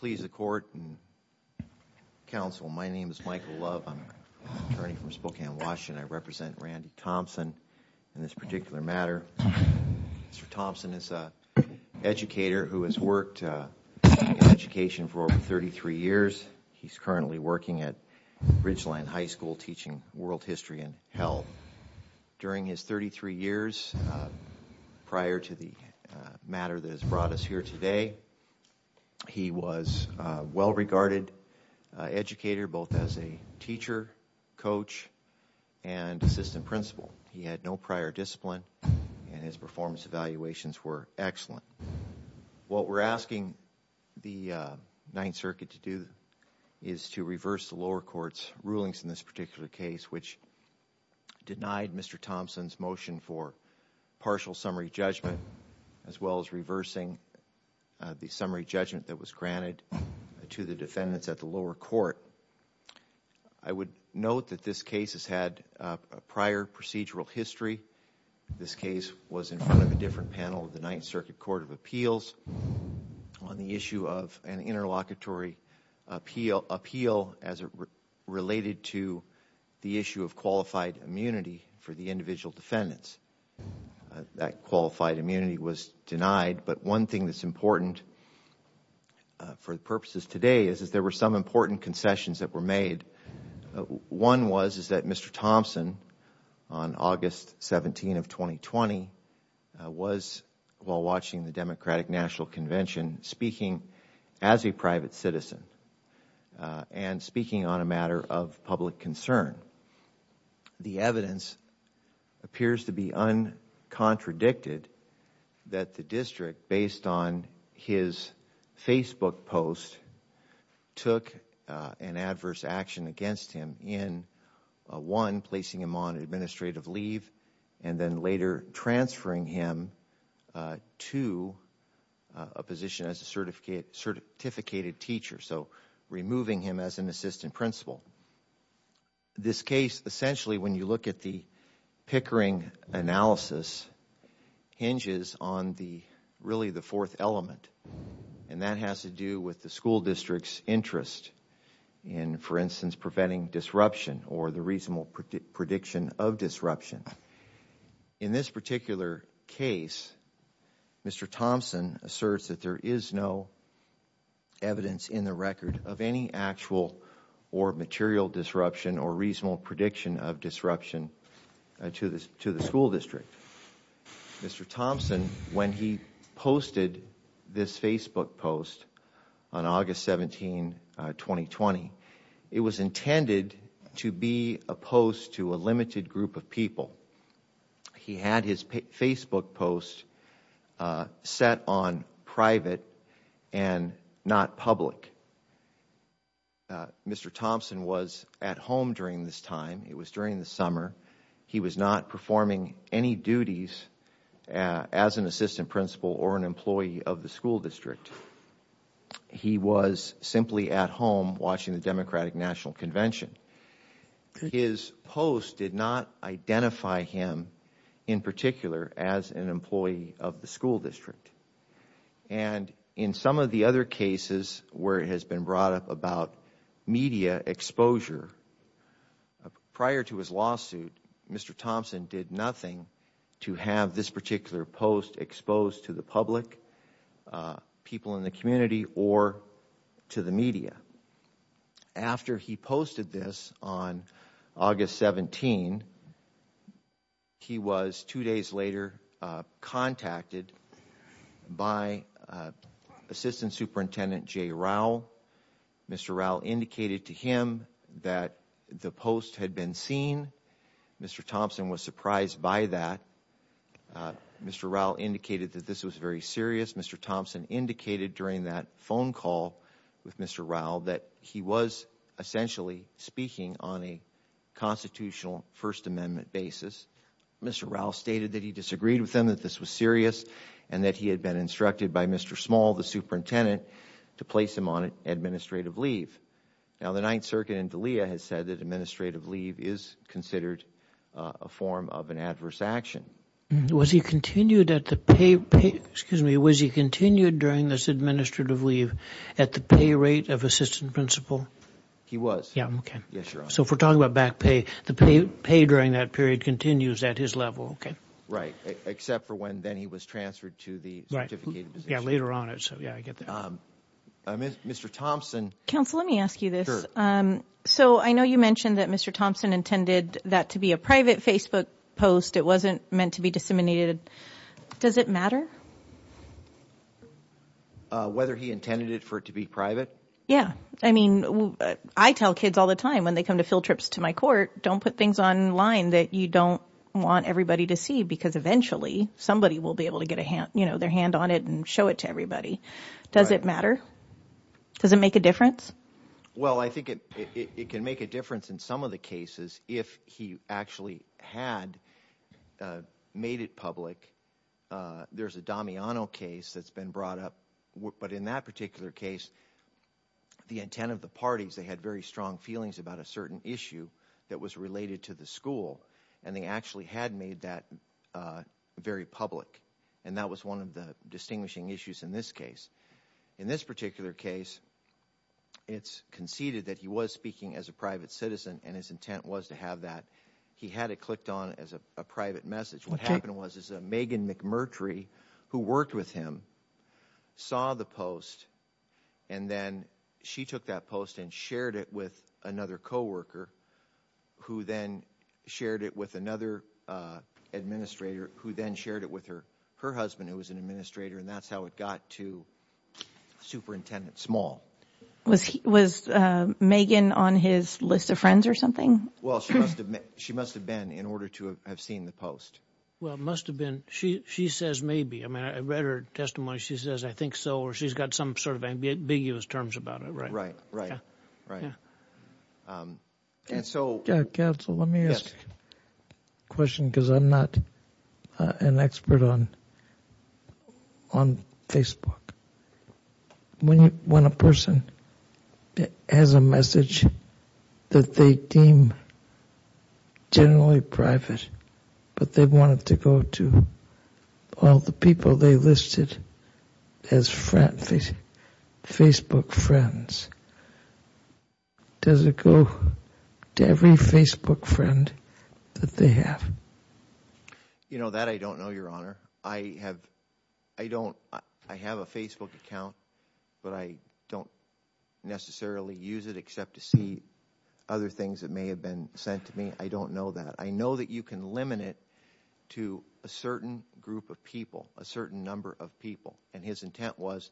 Please the court and counsel. My name is Michael Love. I'm attorney from Spokane, Washington. I represent Randy Thompson in this particular matter. Mr. Thompson is a educator who has worked in education for over 33 years. He's currently working at Ridgeline High School teaching world history and health. During his 33 years prior to the matter that has brought us here today. He was well regarded educator, both as a teacher, coach and assistant principal. He had no prior discipline and his performance evaluations were excellent. What we're asking the Ninth Circuit to do is to reverse the lower courts rulings in this particular case, which denied Mr. Thompson's motion for partial summary judgment as well as reversing the summary judgment that was granted to the defendants at the lower court. I would note that this case has had a prior procedural history. This case was in front of a different panel of the Ninth Circuit Court of Appeals on the of an interlocutory appeal appeal as it related to the issue of qualified immunity for the individual defendants. That qualified immunity was denied. But one thing that's important for the purposes today is that there were some important concessions that were made. One was is that Mr Thompson on August 17 of 2020 was, while watching the Democratic National Convention, speaking as a private citizen and speaking on a matter of public concern. The evidence appears to be uncontradicted that the district, based on his Facebook post, took an adverse action against him in, one, placing him on administrative leave and then later transferring him to a position as a certificated teacher, so removing him as an assistant principal. This case, essentially when you look at the Pickering analysis, hinges on the really the fourth element and that has to do with the school district's interest in, for instance, preventing disruption or the reasonable prediction of disruption. In this particular case, Mr. Thompson asserts that there is no evidence in the record of any actual or material disruption or reasonable prediction of disruption to the school district. Mr. Thompson, when he posted this Facebook post on August 17, 2020, it was intended to be a post to a limited group of people. He had his Facebook post set on private and not public. Mr. Thompson was at home during this time. It was during the summer. He was not performing any duties as an assistant principal or an employee of the school district. He was simply at home watching the Democratic National Convention. His post did not identify him in particular as an employee of the school district. And in some of the other where it has been brought up about media exposure, prior to his lawsuit, Mr. Thompson did nothing to have this particular post exposed to the public, people in the community, or to the media. After he posted this on August 17, he was two days later contacted by Assistant Superintendent Jay Rao. Mr. Rao indicated to him that the post had been seen. Mr. Thompson was surprised by that. Mr. Rao indicated that this was very serious. Mr. Thompson indicated during that phone call with Mr. Rao that he was essentially speaking on a constitutional First Amendment basis. Mr. Rao stated that he disagreed with him, that this was serious, and that he had been instructed by Mr. Small, the superintendent, to place him on administrative leave. Now, the Ninth Circuit in D'Elia has said that administrative leave is considered a form of an adverse action. Was he continued at the pay rate, excuse me, was he continued during this administrative leave at the pay rate of assistant principal? He was. Yeah, okay. So if we're talking about back pay, the pay during that period continues at his level, okay. Right, except for when then he was transferred to the certificate position. Yeah, later on. Mr. Thompson. Counsel, let me ask you this. So I know you mentioned that Mr. Thompson intended that to be a private Facebook post. It wasn't meant to be disseminated. Does it matter? Whether he intended it for it to be private? Yeah, I mean, I tell kids all the time when they come to field trips to my court, don't put things online that you don't want everybody to see because eventually somebody will be able to get a hand, you know, their hand on it and show it to everybody. Does it matter? Does it make a difference? Well, I think it can make a difference in some of the cases if he actually had made it public. There's a Damiano case that's been brought up, but in that particular case the intent of the parties, they had very strong feelings about a certain issue that was related to the school and they actually had made that very public and that was one of the distinguishing issues in this case. In this particular case, it's conceded that he was speaking as a private citizen and his intent was to have that. He had it clicked on as a private message. What happened was Megan McMurtry, who worked with him, saw the post and then she took that post and shared it with another co-worker who then shared it with another administrator who then shared it with her husband, who was an administrator, and that's how it got to Superintendent Small. Was Megan on his list of friends or something? Well, she must have been in order to have seen the post. Well, it must have been. She says maybe. I mean, I read her testimony. She says, I think so, or she's got some sort of ambiguous terms about it. Right, right, right. Counsel, let me ask a question because I'm not an expert on Facebook. When a person has a message that they deem generally private, but they wanted to go to all the people they listed as Facebook friends, does it go to every Facebook friend that they have? You know, that I don't know, Your Honor. I have a Facebook account, but I don't necessarily use it except to see other things that may have been sent to me. I don't know that. I know that you can limit it to a certain group of people, a certain number of people, and his intent was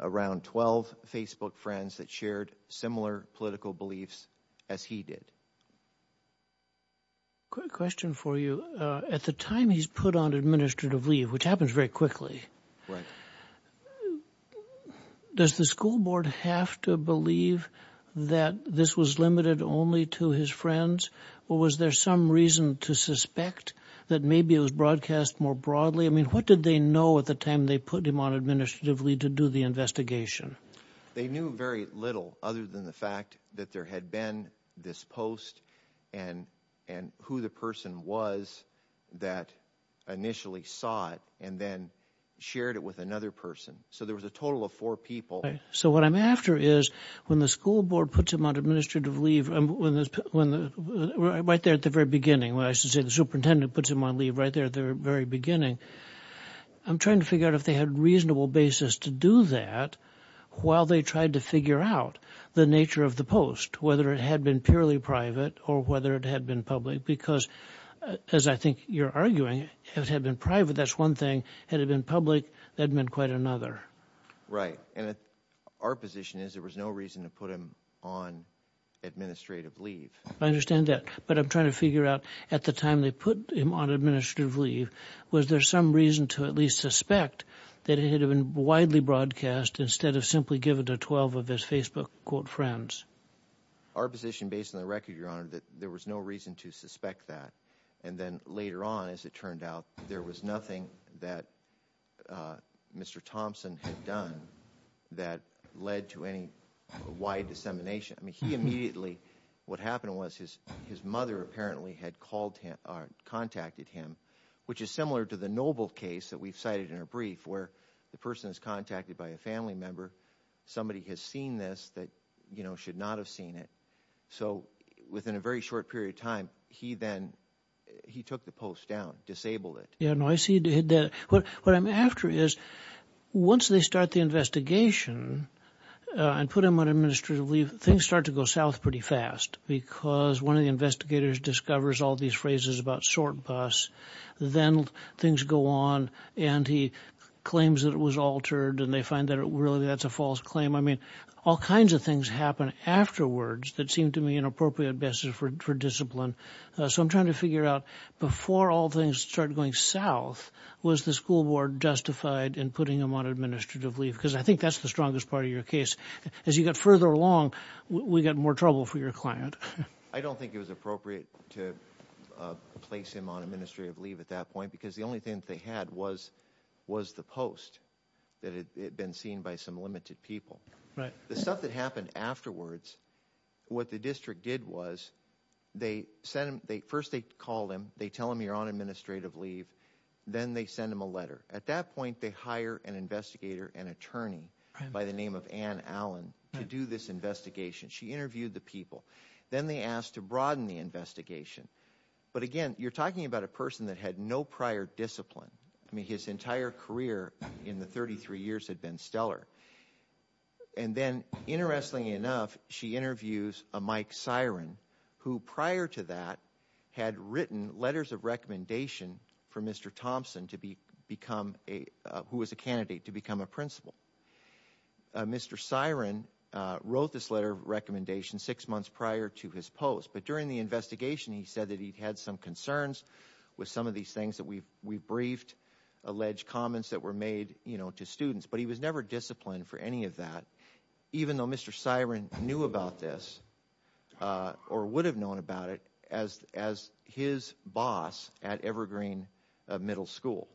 around 12 Facebook friends that shared similar political beliefs as he did. Quick question for you. At the time he's put on administrative leave, which happens very quickly, does the school Was there some reason to suspect that maybe it was broadcast more broadly? I mean, what did they know at the time they put him on administrative leave to do the investigation? They knew very little other than the fact that there had been this post and who the person was that initially saw it and then shared it with another person. So there was a total of four people. So what I'm after is when the school board puts him on administrative leave, right there at the very beginning, when I should say the superintendent puts him on leave right there at the very beginning, I'm trying to figure out if they had a reasonable basis to do that while they tried to figure out the nature of the post, whether it had been purely private or whether it had been public. Because, as I think you're arguing, if it had been private, that's one thing. Had it been public, that meant quite another. Right. And our position is there was no reason to put him on administrative leave. I understand that. But I'm trying to figure out at the time they put him on administrative leave, was there some reason to at least suspect that it had been widely broadcast instead of simply given to 12 of his Facebook, quote, friends? Our position based on the record, Your Honor, that there was no reason to suspect that. And then later on, as it turned out, there was nothing that Mr. Thompson had done that led to any wide dissemination. I mean, he immediately, what happened was his his mother apparently had called him or contacted him, which is similar to the Noble case that we've cited in our brief, where the person is contacted by a family member, somebody has seen this that, you know, should not have seen it. So within a short period of time, he then he took the post down, disabled it. Yeah, no, I see that. What I'm after is, once they start the investigation and put him on administrative leave, things start to go south pretty fast because one of the investigators discovers all these phrases about sort bus, then things go on and he claims that it was altered and they find that it really that's a false claim. I mean, all kinds of things happen afterwards that seem to me an appropriate basis for discipline. So I'm trying to figure out, before all things started going south, was the school board justified in putting him on administrative leave? Because I think that's the strongest part of your case. As you got further along, we got more trouble for your client. I don't think it was appropriate to place him on administrative leave at that point because the only thing they had was was the post that had been seen by some people. Right. The stuff that happened afterwards, what the district did was, they sent him, first they called him, they tell him you're on administrative leave, then they send him a letter. At that point, they hire an investigator, an attorney by the name of Ann Allen, to do this investigation. She interviewed the people. Then they asked to broaden the investigation. But again, you're talking about a person that had no prior discipline. I mean, his entire career in the 33 years had been stellar. And then, interestingly enough, she interviews a Mike Siren, who prior to that, had written letters of recommendation for Mr. Thompson, who was a candidate, to become a principal. Mr. Siren wrote this letter of recommendation six months prior to his post. But during the investigation, he said that he'd had some concerns with some of these things that we briefed, alleged comments that were made, you know, to students. But he was never disciplined for any of that, even though Mr. Siren knew about this, or would have known about it, as his boss at Evergreen Middle School.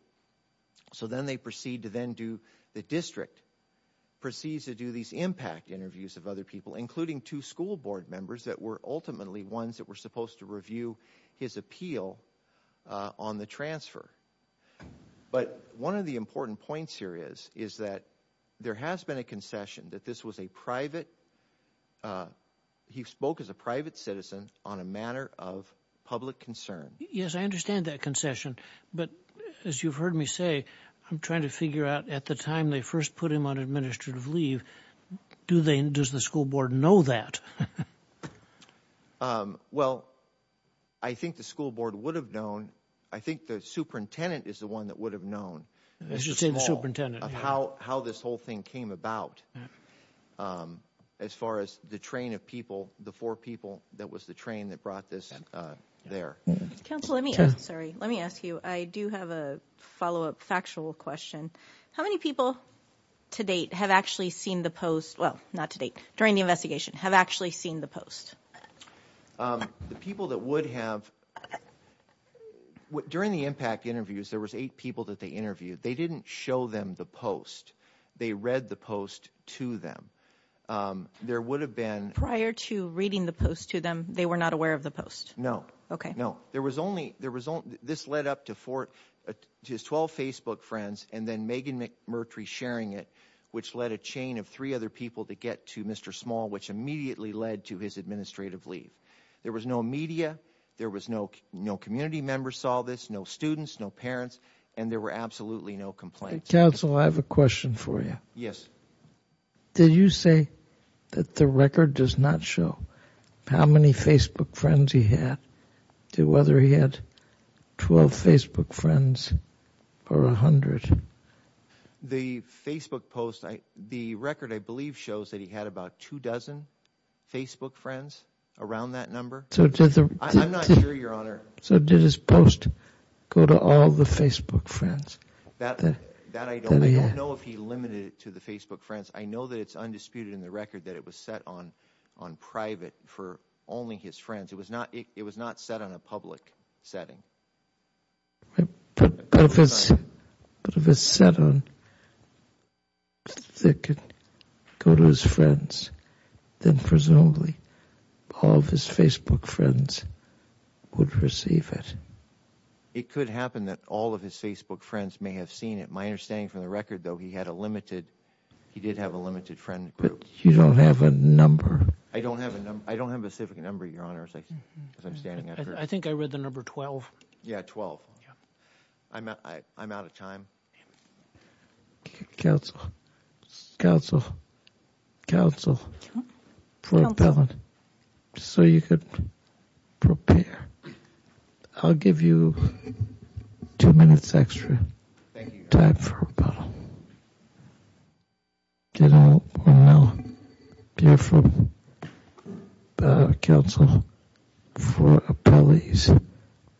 So then they proceed to then do, the district proceeds to do these impact interviews of other people, including two school board members that were ultimately ones that were supposed to review his appeal on the transfer. But one of the important points here is, is that there has been a concession that this was a private, he spoke as a private citizen on a matter of public concern. Yes, I understand that concession, but as you've heard me say, I'm trying to figure out, at the time they first put him on administrative leave, do they, does the school board know that? Well, I think the school board would have known, I think the superintendent is the one that would have known, how this whole thing came about, as far as the train of people, the four people that was the train that brought this there. Council, let me, sorry, let me ask you, I do have a follow-up factual question. How many people to date have actually seen the post, well, not to date, during the investigation, have actually seen the post? The people that would have, during the impact interviews, there was eight people that they interviewed. They didn't show them the post, they read the post to them. There would have been... Prior to reading the post to them, they were not aware of the post? No. Okay. No, there was only, there was only, this led up to four, to his 12 Facebook friends, and then Megan McMurtry sharing it, which led a chain of three other people to get to Mr. Small, which immediately led to his administrative leave. There was no media, there was no, no community members saw this, no students, no parents, and there were absolutely no complaints. Council, I have a question for you. Yes. Did you say that the record does not show how many Facebook friends he had, to whether he had 12 Facebook friends, or a hundred? The Facebook post, the record, I believe, shows that he had about two dozen Facebook friends around that number. So did the... I'm not sure, Your Honor. So did his post go to all the Facebook friends? That, that I don't know. I don't know if he limited it to the Facebook friends. I know that it's undisputed in the record that it was set on, on private, for only his friends. It was not, it was not set on a public setting. But if it's set on that it could go to his friends, then presumably all of his Facebook friends would receive it. It could happen that all of his Facebook friends may have seen it. My understanding from the record, though, he had a limited, he did have a limited friend group. But you don't have a number. I don't have a number, I don't have a number. I think I read the number 12. Yeah, 12. I'm out of time. Counsel, counsel, counsel, for appellant, so you could prepare. I'll give you two minutes extra time for rebuttal. Beautiful counsel for appellate, Mr.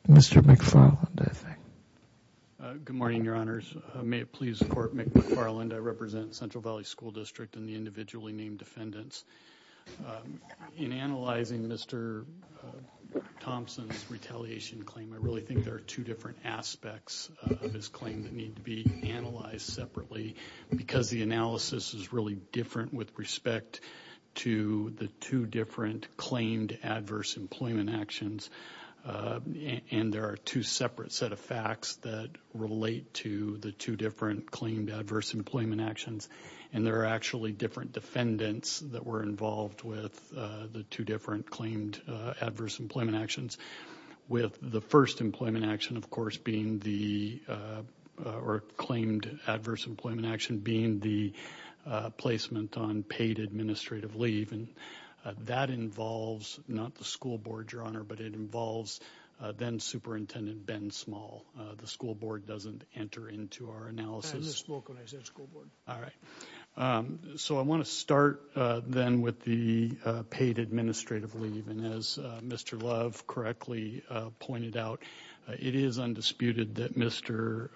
McFarland, I think. Good morning, Your Honors. May it please the Court, McFarland. I represent Central Valley School District and the individually named defendants. In analyzing Mr. Thompson's retaliation claim, I really think there are two different aspects of his claim that need to be analyzed separately. Because the analysis is really different with respect to the two different claimed adverse employment actions, and there are two separate set of facts that relate to the two different claimed adverse employment actions. And there are actually different defendants that were involved with the two different claimed adverse employment actions, with the first employment action, of course, being the or claimed adverse employment action being the placement on paid administrative leave. And that involves not the school board, Your Honor, but it involves then-Superintendent Ben Small. The school board doesn't enter into our analysis. I just spoke when I said school board. All right. So I want to start then with the paid administrative leave. And as Mr. Love correctly pointed out, it is undisputed that Mr.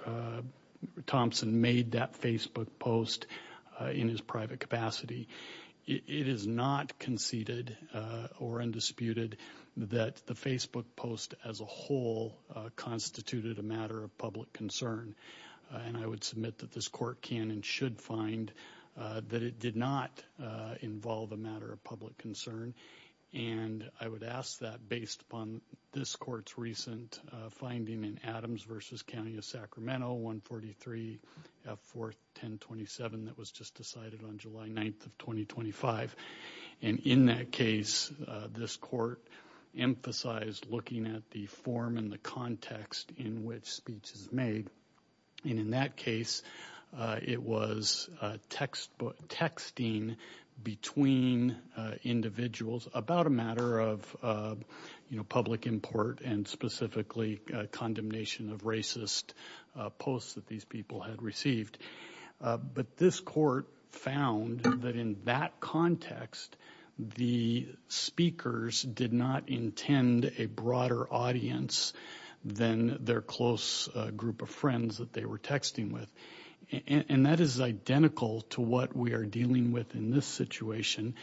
Thompson made that Facebook post in his private capacity. It is not conceded or undisputed that the Facebook post as a whole constituted a matter of public concern. And I would submit that this Court can and should find that it did not involve a matter of public concern. And I would ask that based upon this Court's recent finding in Adams v. County of Sacramento, 143 F. 4th 1027, that was just decided on July 9th of 2025. And in that case, this Court emphasized looking at the form and the context in which speech is made. And in that case, it was texting between individuals about a matter of, you know, public import and specifically condemnation of racist posts that these people had received. But this Court found that in that context, the speakers did not intend a broader audience than their close group of friends that they were texting with. And that is identical to what we are dealing with in this situation,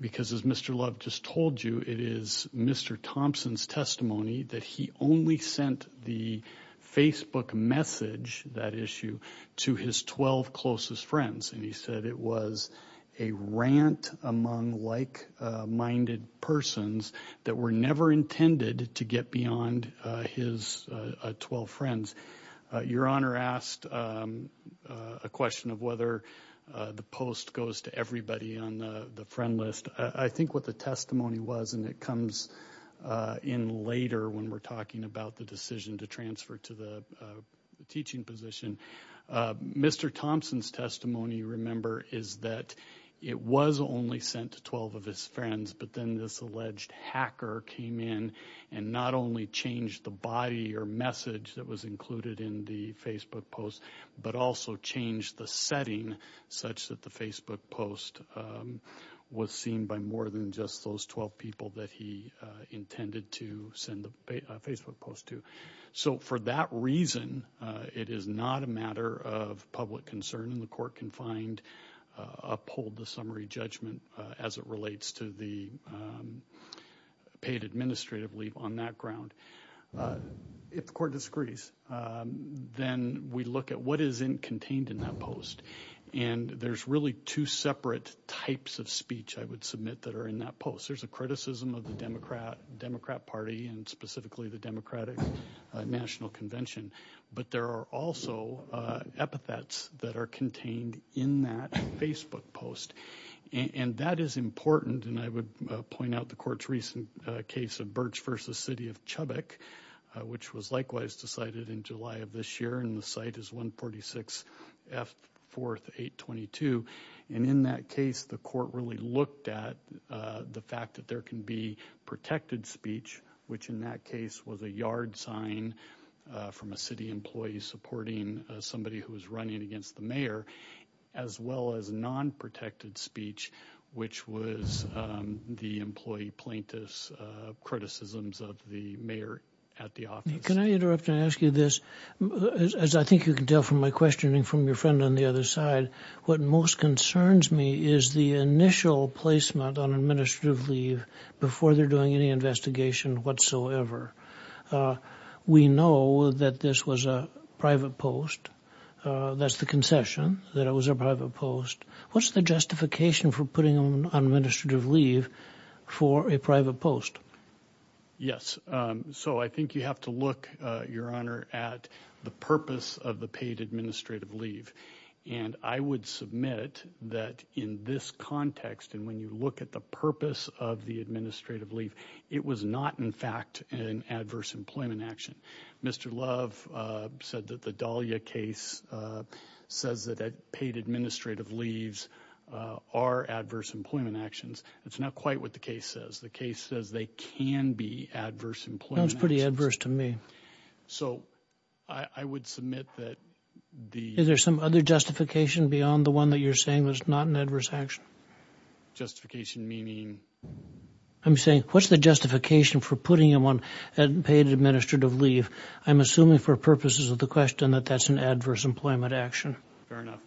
because as Mr. Love just told you, it is Mr. Thompson's testimony that he only sent the Facebook message, that issue, to his 12 closest friends. And he said it was a rant among like-minded persons that were never intended to get beyond his 12 friends. Your Honor asked a question of whether the post goes to everybody on the friend list. I think what the testimony was, and it comes in later when we're talking about the decision to transfer to the teaching position, Mr. Thompson's testimony, remember, is that it was only sent to 12 of his friends, but then this alleged hacker came in and not only changed the body or message that was included in the Facebook post, but also changed the setting such that the Facebook post was seen by more than just those 12 people that he intended to send the Facebook post to. So for that reason, it is not a matter of public concern, and the Court can find uphold the summary judgment as it relates to the paid administrative leave on that ground. If the Court disagrees, then we look at what is contained in that post, and there's really two separate types of speech I would submit that are in that post. There's a criticism of the Democrat Party and specifically the Democratic National Convention, but there are also epithets that are contained in that Facebook post, and that is important, and I would point out the Court's recent case of Birch v. City of Chubbuck, which was likewise decided in July of this year, and the site is 146 F 4th 822, and in that case the Court really looked at the fact that there can be protected speech, which in that case was a yard sign from a city employee supporting somebody who was running against the mayor, as well as non-protected speech, which was the employee plaintiff's criticisms of the mayor at the office. Can I interrupt and ask you this? As I think you can tell from my questioning from your friend on the other side, what most concerns me is the initial placement on administrative leave before they're doing any investigation whatsoever. We know that this was a concession, that it was a private post. What's the justification for putting on administrative leave for a private post? Yes, so I think you have to look, Your Honor, at the purpose of the paid administrative leave, and I would submit that in this context, and when you look at the purpose of the administrative leave, it was not in fact an adverse employment action. Mr. Love said that the Dahlia case says that paid administrative leaves are adverse employment actions. That's not quite what the case says. The case says they can be adverse employment actions. That's pretty adverse to me. So, I would submit that the... Is there some other justification beyond the one that you're saying was not an adverse action? Justification meaning? I'm saying, what's the justification for putting him on paid administrative leave? I'm assuming for purposes of the question that that's an adverse employment action. Fair enough.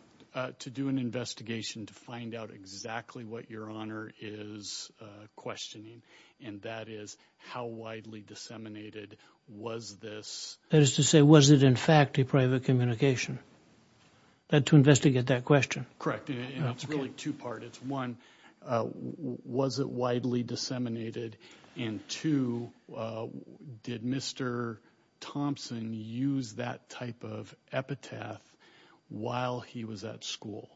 To do an investigation to find out exactly what Your Honor is questioning, and that is, how widely disseminated was this? That is to say, was it in fact a private communication? To investigate that question. Correct, and it's really two-part. It's one, was it widely disseminated? And two, did Mr. Thompson use that type of epitaph while he was at school?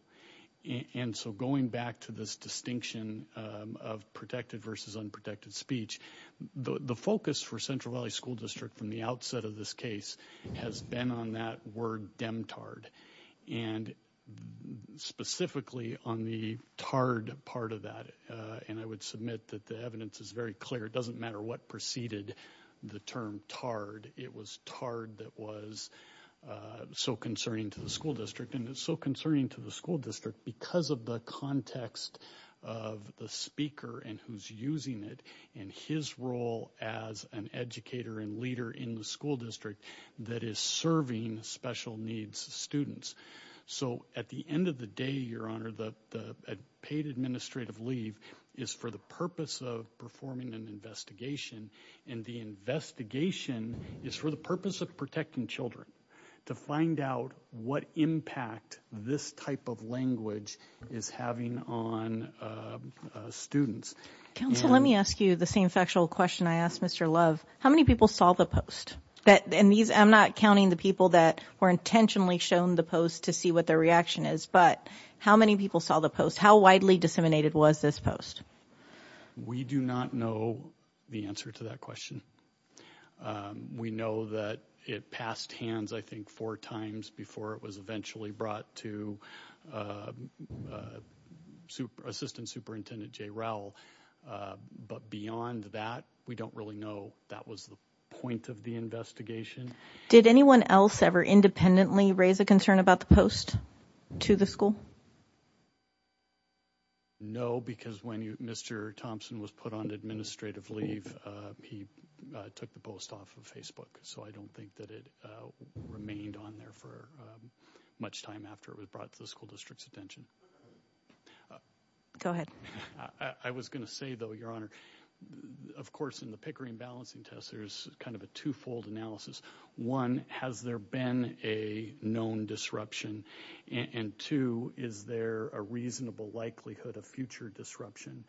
And so going back to this distinction of protected versus unprotected speech, the focus for Central Valley School District from the outset of this case has been on that word demtard, and specifically on the tarred part of that. And I would submit that the evidence is very clear. It doesn't matter what preceded the term tarred. It was tarred that was so concerning to the school district, and it's so concerning to the school district because of the context of the speaker and who's using it, and his role as an educator and leader in the school district that is serving special needs students. So at the end of the day, Your Honor, the paid administrative leave is for the purpose of performing an investigation, and the investigation is for the purpose of protecting children. To find out what impact this type of language is having on students. Counsel, let me ask you the same factual question I asked Mr. Love. How many people saw the post? And these, I'm not counting the people that were intentionally shown the post to see what their reaction is, but how many people saw the post? How widely disseminated was this post? We do not know the answer to that question. We know that it passed hands I think four times before it was eventually brought to Assistant Superintendent Jay Rowell, but beyond that we don't really know. That was the point of the investigation. Did anyone else ever independently raise a concern about the post to the school? No, because when you Mr. Thompson was put on administrative leave, he took the post off of Facebook, so I don't think that it remained on there for much time after it was brought to the school district's attention. Go ahead. I was gonna say though, Your Honor, of course in the Green Balancing Test there's kind of a twofold analysis. One, has there been a known disruption? And two, is there a reasonable likelihood of future disruption?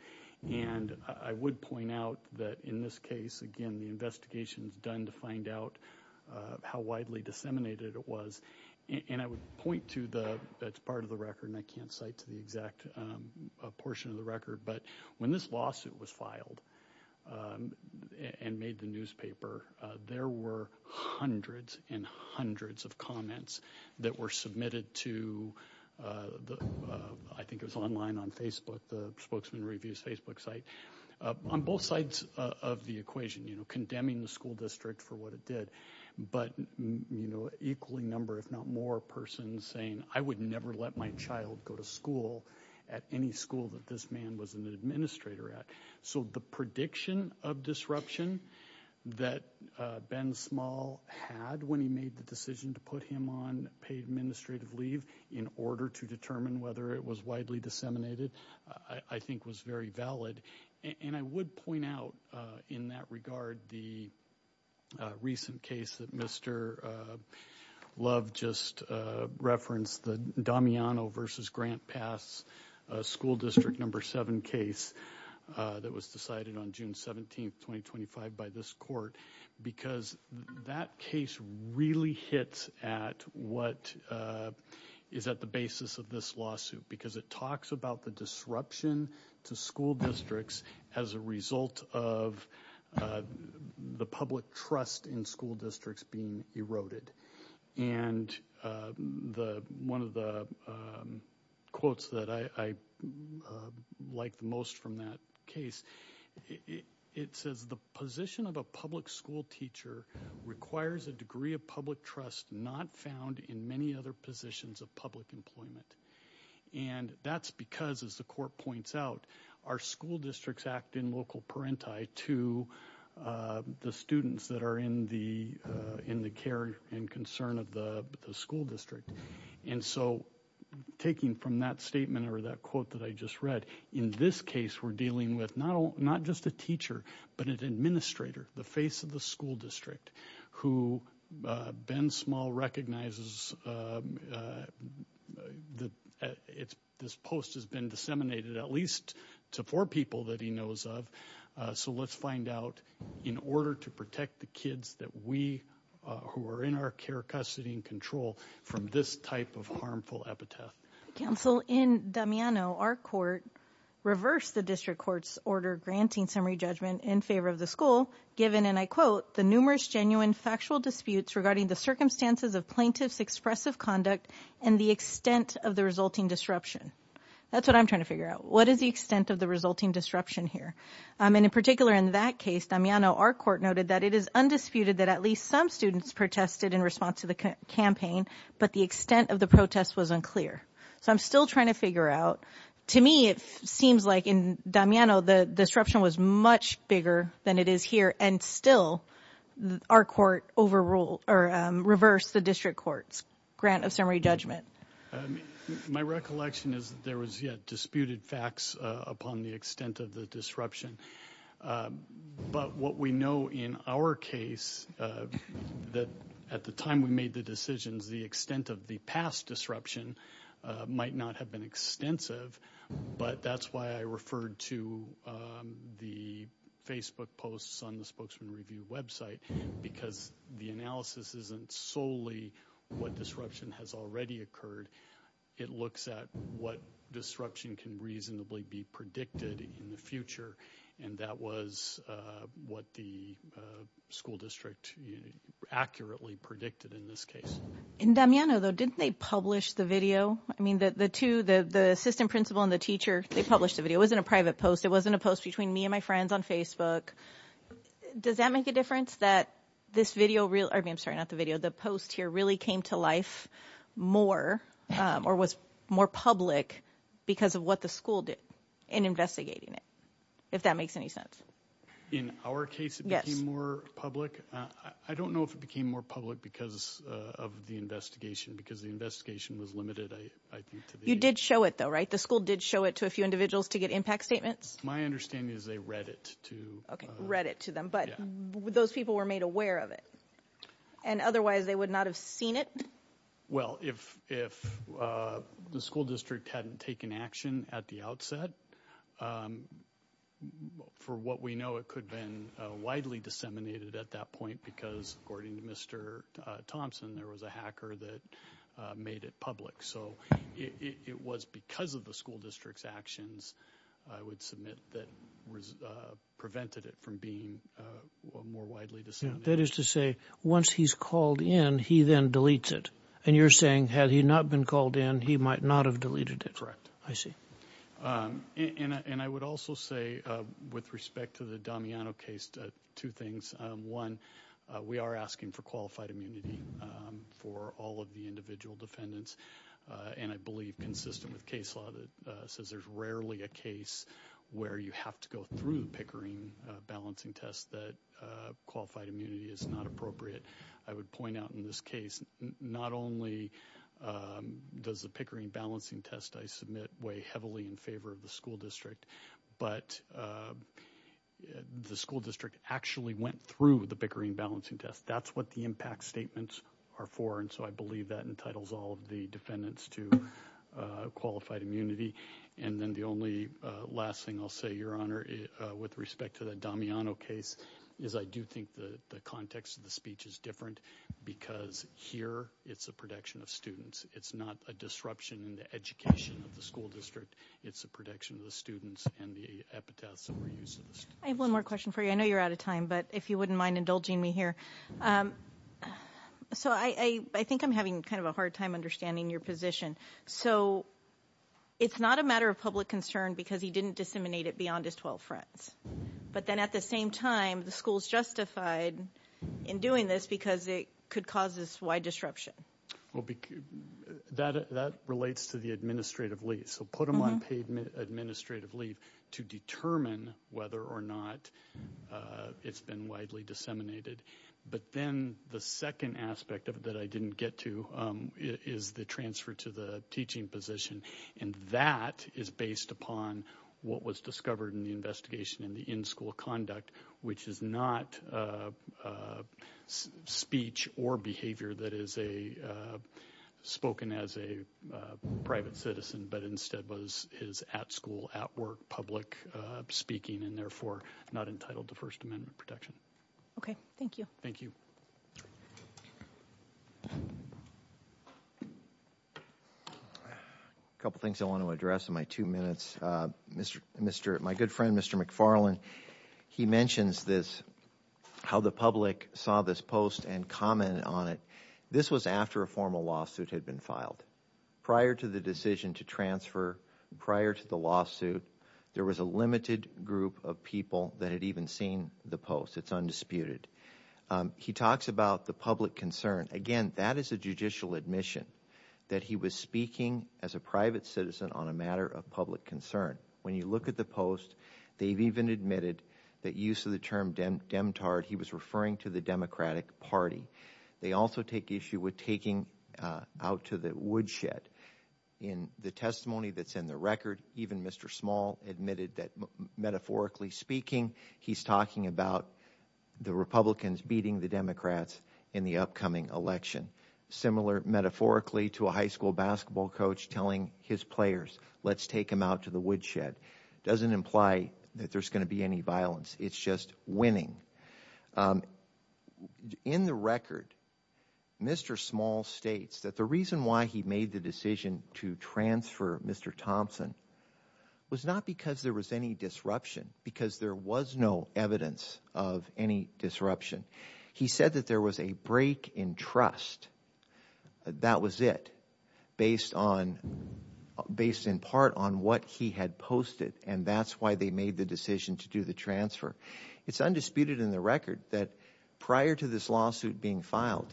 And I would point out that in this case, again the investigation is done to find out how widely disseminated it was, and I would point to the, that's part of the record and I can't cite to the exact portion of the record, but when this lawsuit was filed and made the newspaper, there were hundreds and hundreds of comments that were submitted to the, I think it was online on Facebook, the Spokesman Review's Facebook site, on both sides of the equation, you know, condemning the school district for what it did, but you know equally number if not more persons saying I would never let my child go to school at any school that this man was an administrator at. So the prediction of disruption that Ben Small had when he made the decision to put him on paid administrative leave in order to determine whether it was widely disseminated, I think was very valid, and I would point out in that regard the recent case that Mr. Love just referenced, the Damiano versus Grant Pass school district number seven case that was decided on June 17th 2025 by this court, because that case really hits at what is at the basis of this lawsuit, because it talks about the disruption to school districts as a result of the public trust in school districts. And one of the quotes that I like the most from that case, it says the position of a public school teacher requires a degree of public trust not found in many other positions of public employment, and that's because as the court points out, our school districts act in local parenti to the students that are in the in the care and concern of the school district. And so taking from that statement or that quote that I just read, in this case we're dealing with not just a teacher but an administrator, the face of the school district, who Ben Small recognizes that this post has been disseminated at least to four people that he knows of, so let's find out in order to protect the kids that we who are in our care custody and control from this type of harmful epitaph. Counsel, in Damiano, our court reversed the district court's order granting summary judgment in favor of the school given, and I quote, the numerous genuine factual disputes regarding the circumstances of plaintiffs expressive conduct and the extent of the resulting disruption. That's what I'm trying to figure out. What is the extent of the resulting disruption here? And in particular in that case, Damiano, our court noted that it is undisputed that at least some students protested in response to the campaign, but the extent of the protest was unclear. So I'm still trying to figure out, to me it seems like in Damiano the disruption was much bigger than it is here, and still our court overruled or reversed the district court's grant of summary judgment. My recollection is there was yet disputed facts upon the extent of the disruption, but what we know in our case that at the time we made the decisions, the extent of the past disruption might not have been extensive, but that's why I referred to the Facebook posts on the Spokesman Review website, because the analysis isn't solely what disruption has already occurred, it looks at what disruption can reasonably be predicted in the future, and that was what the school district accurately predicted in this case. In Damiano though, didn't they publish the video? I mean the two, the assistant principal and the teacher, they published the video. It wasn't a private post, it wasn't a post between me and my friends on Facebook. Does that make a difference that this video, I'm sorry not the video, the post here really came to life more, or was more public, because of what the school did in investigating it? If that makes any sense. In our case it became more public. I don't know if it became more public because of the investigation, because the investigation was limited. You did show it though, right? The school did show it to a few individuals to get impact statements? My understanding is they read it to them. But those people were made aware of it, and otherwise they would not have seen it? Well, if the school district hadn't taken action at the outset, for what we know it could have been widely disseminated at that point because, according to Mr. Thompson, there was a hacker that made it public. So it was because of the school district's actions, I would submit, that prevented it from being more widely disseminated. That is to say, once he's called in, he then deletes it. And you're saying had he not been called in, he might not have deleted it. Correct. I see. And I would also say, with respect to the Damiano case, two things. One, we are asking for qualified immunity for all of the individual defendants, and I believe consistent with case law that says there's rarely a case where you have to go through the Pickering balancing test that qualified immunity is not appropriate. I would point out in this case, not only does the Pickering balancing test, I submit, weigh heavily in favor of the school district, but the school district actually went through the Pickering balancing test. That's what the impact statements are for, and so I believe that entitles all the defendants to qualified immunity. And then the only last thing I'll say, Your Honor, with respect to the Damiano case, is I do think the context of the speech is different because here it's a protection of students. It's not a disruption in the education of the school district. It's a protection of the students and the epitaphs that were used. I have one more question for you. I know you're out of time, but if you wouldn't mind indulging me here. So I think I'm having kind of a hard time understanding your position. So it's not a matter of public concern because he didn't disseminate it beyond his 12 friends. But then at the same time, the school's justified in doing this because it could cause this wide disruption. Well, that relates to the administrative leave. So put him on paid administrative leave to determine whether or not it's been widely disseminated. But then the second aspect of it that I didn't get to is the transfer to the teaching position, and that is based upon what was discovered in the investigation in the in-school conduct, which is not speech or behavior that is a spoken as a private citizen, but instead was is at school, at work, public speaking, and therefore not entitled to First Amendment protection. Okay, thank you. Thank you. A couple things I want to address in my two minutes. Mr. McFarland, he mentions this, how the public saw this post and commented on it. This was after a formal lawsuit had been filed. Prior to the decision to transfer, prior to the lawsuit, there was a limited group of people that had even seen the post. It's undisputed. He talks about the public concern. Again, that is a judicial admission that he was speaking as a private citizen on a matter of public concern. When you look at the post, they've even admitted that use of the term demtard, he was referring to the Democratic Party. They also take issue with taking out to the woodshed. In the testimony that's in the record, even Mr. Small admitted that metaphorically speaking, he's talking about the Republicans beating the Democrats in the upcoming election. Similar metaphorically to a high school basketball coach telling his players, let's take him out to the woodshed. Doesn't imply that there's going to be any violence. It's just winning. In the record, Mr. Small states that the reason why he made the decision to transfer Mr. Thompson was not because there was any disruption, because there was no evidence of any disruption. He said that there was a break in trust. That was it, based on, based in part on what he had posted, and that's why they made the decision to do the transfer. It's undisputed in the record that prior to this lawsuit being filed,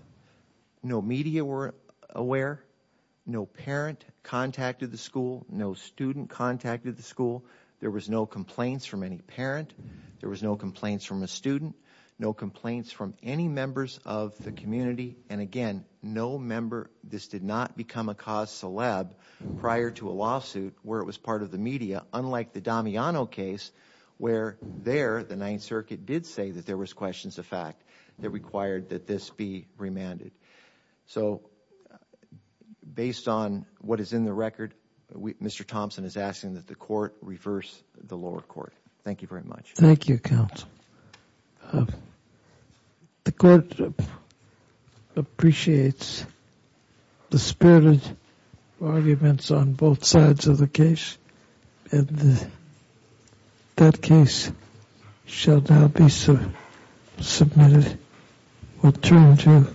no media were aware, no parent contacted the school, no student contacted the school, there was no complaints from any parent, there was no complaints from a student, no complaints from any members of the community, and again, no member, this did not become a cause celeb prior to a lawsuit where it was part of the media, unlike the Damiano case, where there, the Ninth Circuit did say that there was questions of fact that required that this be remanded. So, based on what is in the record, Mr. Thompson is asking that the court reverse the lower court. Thank you very much. Thank you, counsel. The court appreciates the spirited arguments on both sides of the case, and that case shall now be submitted, or turned to.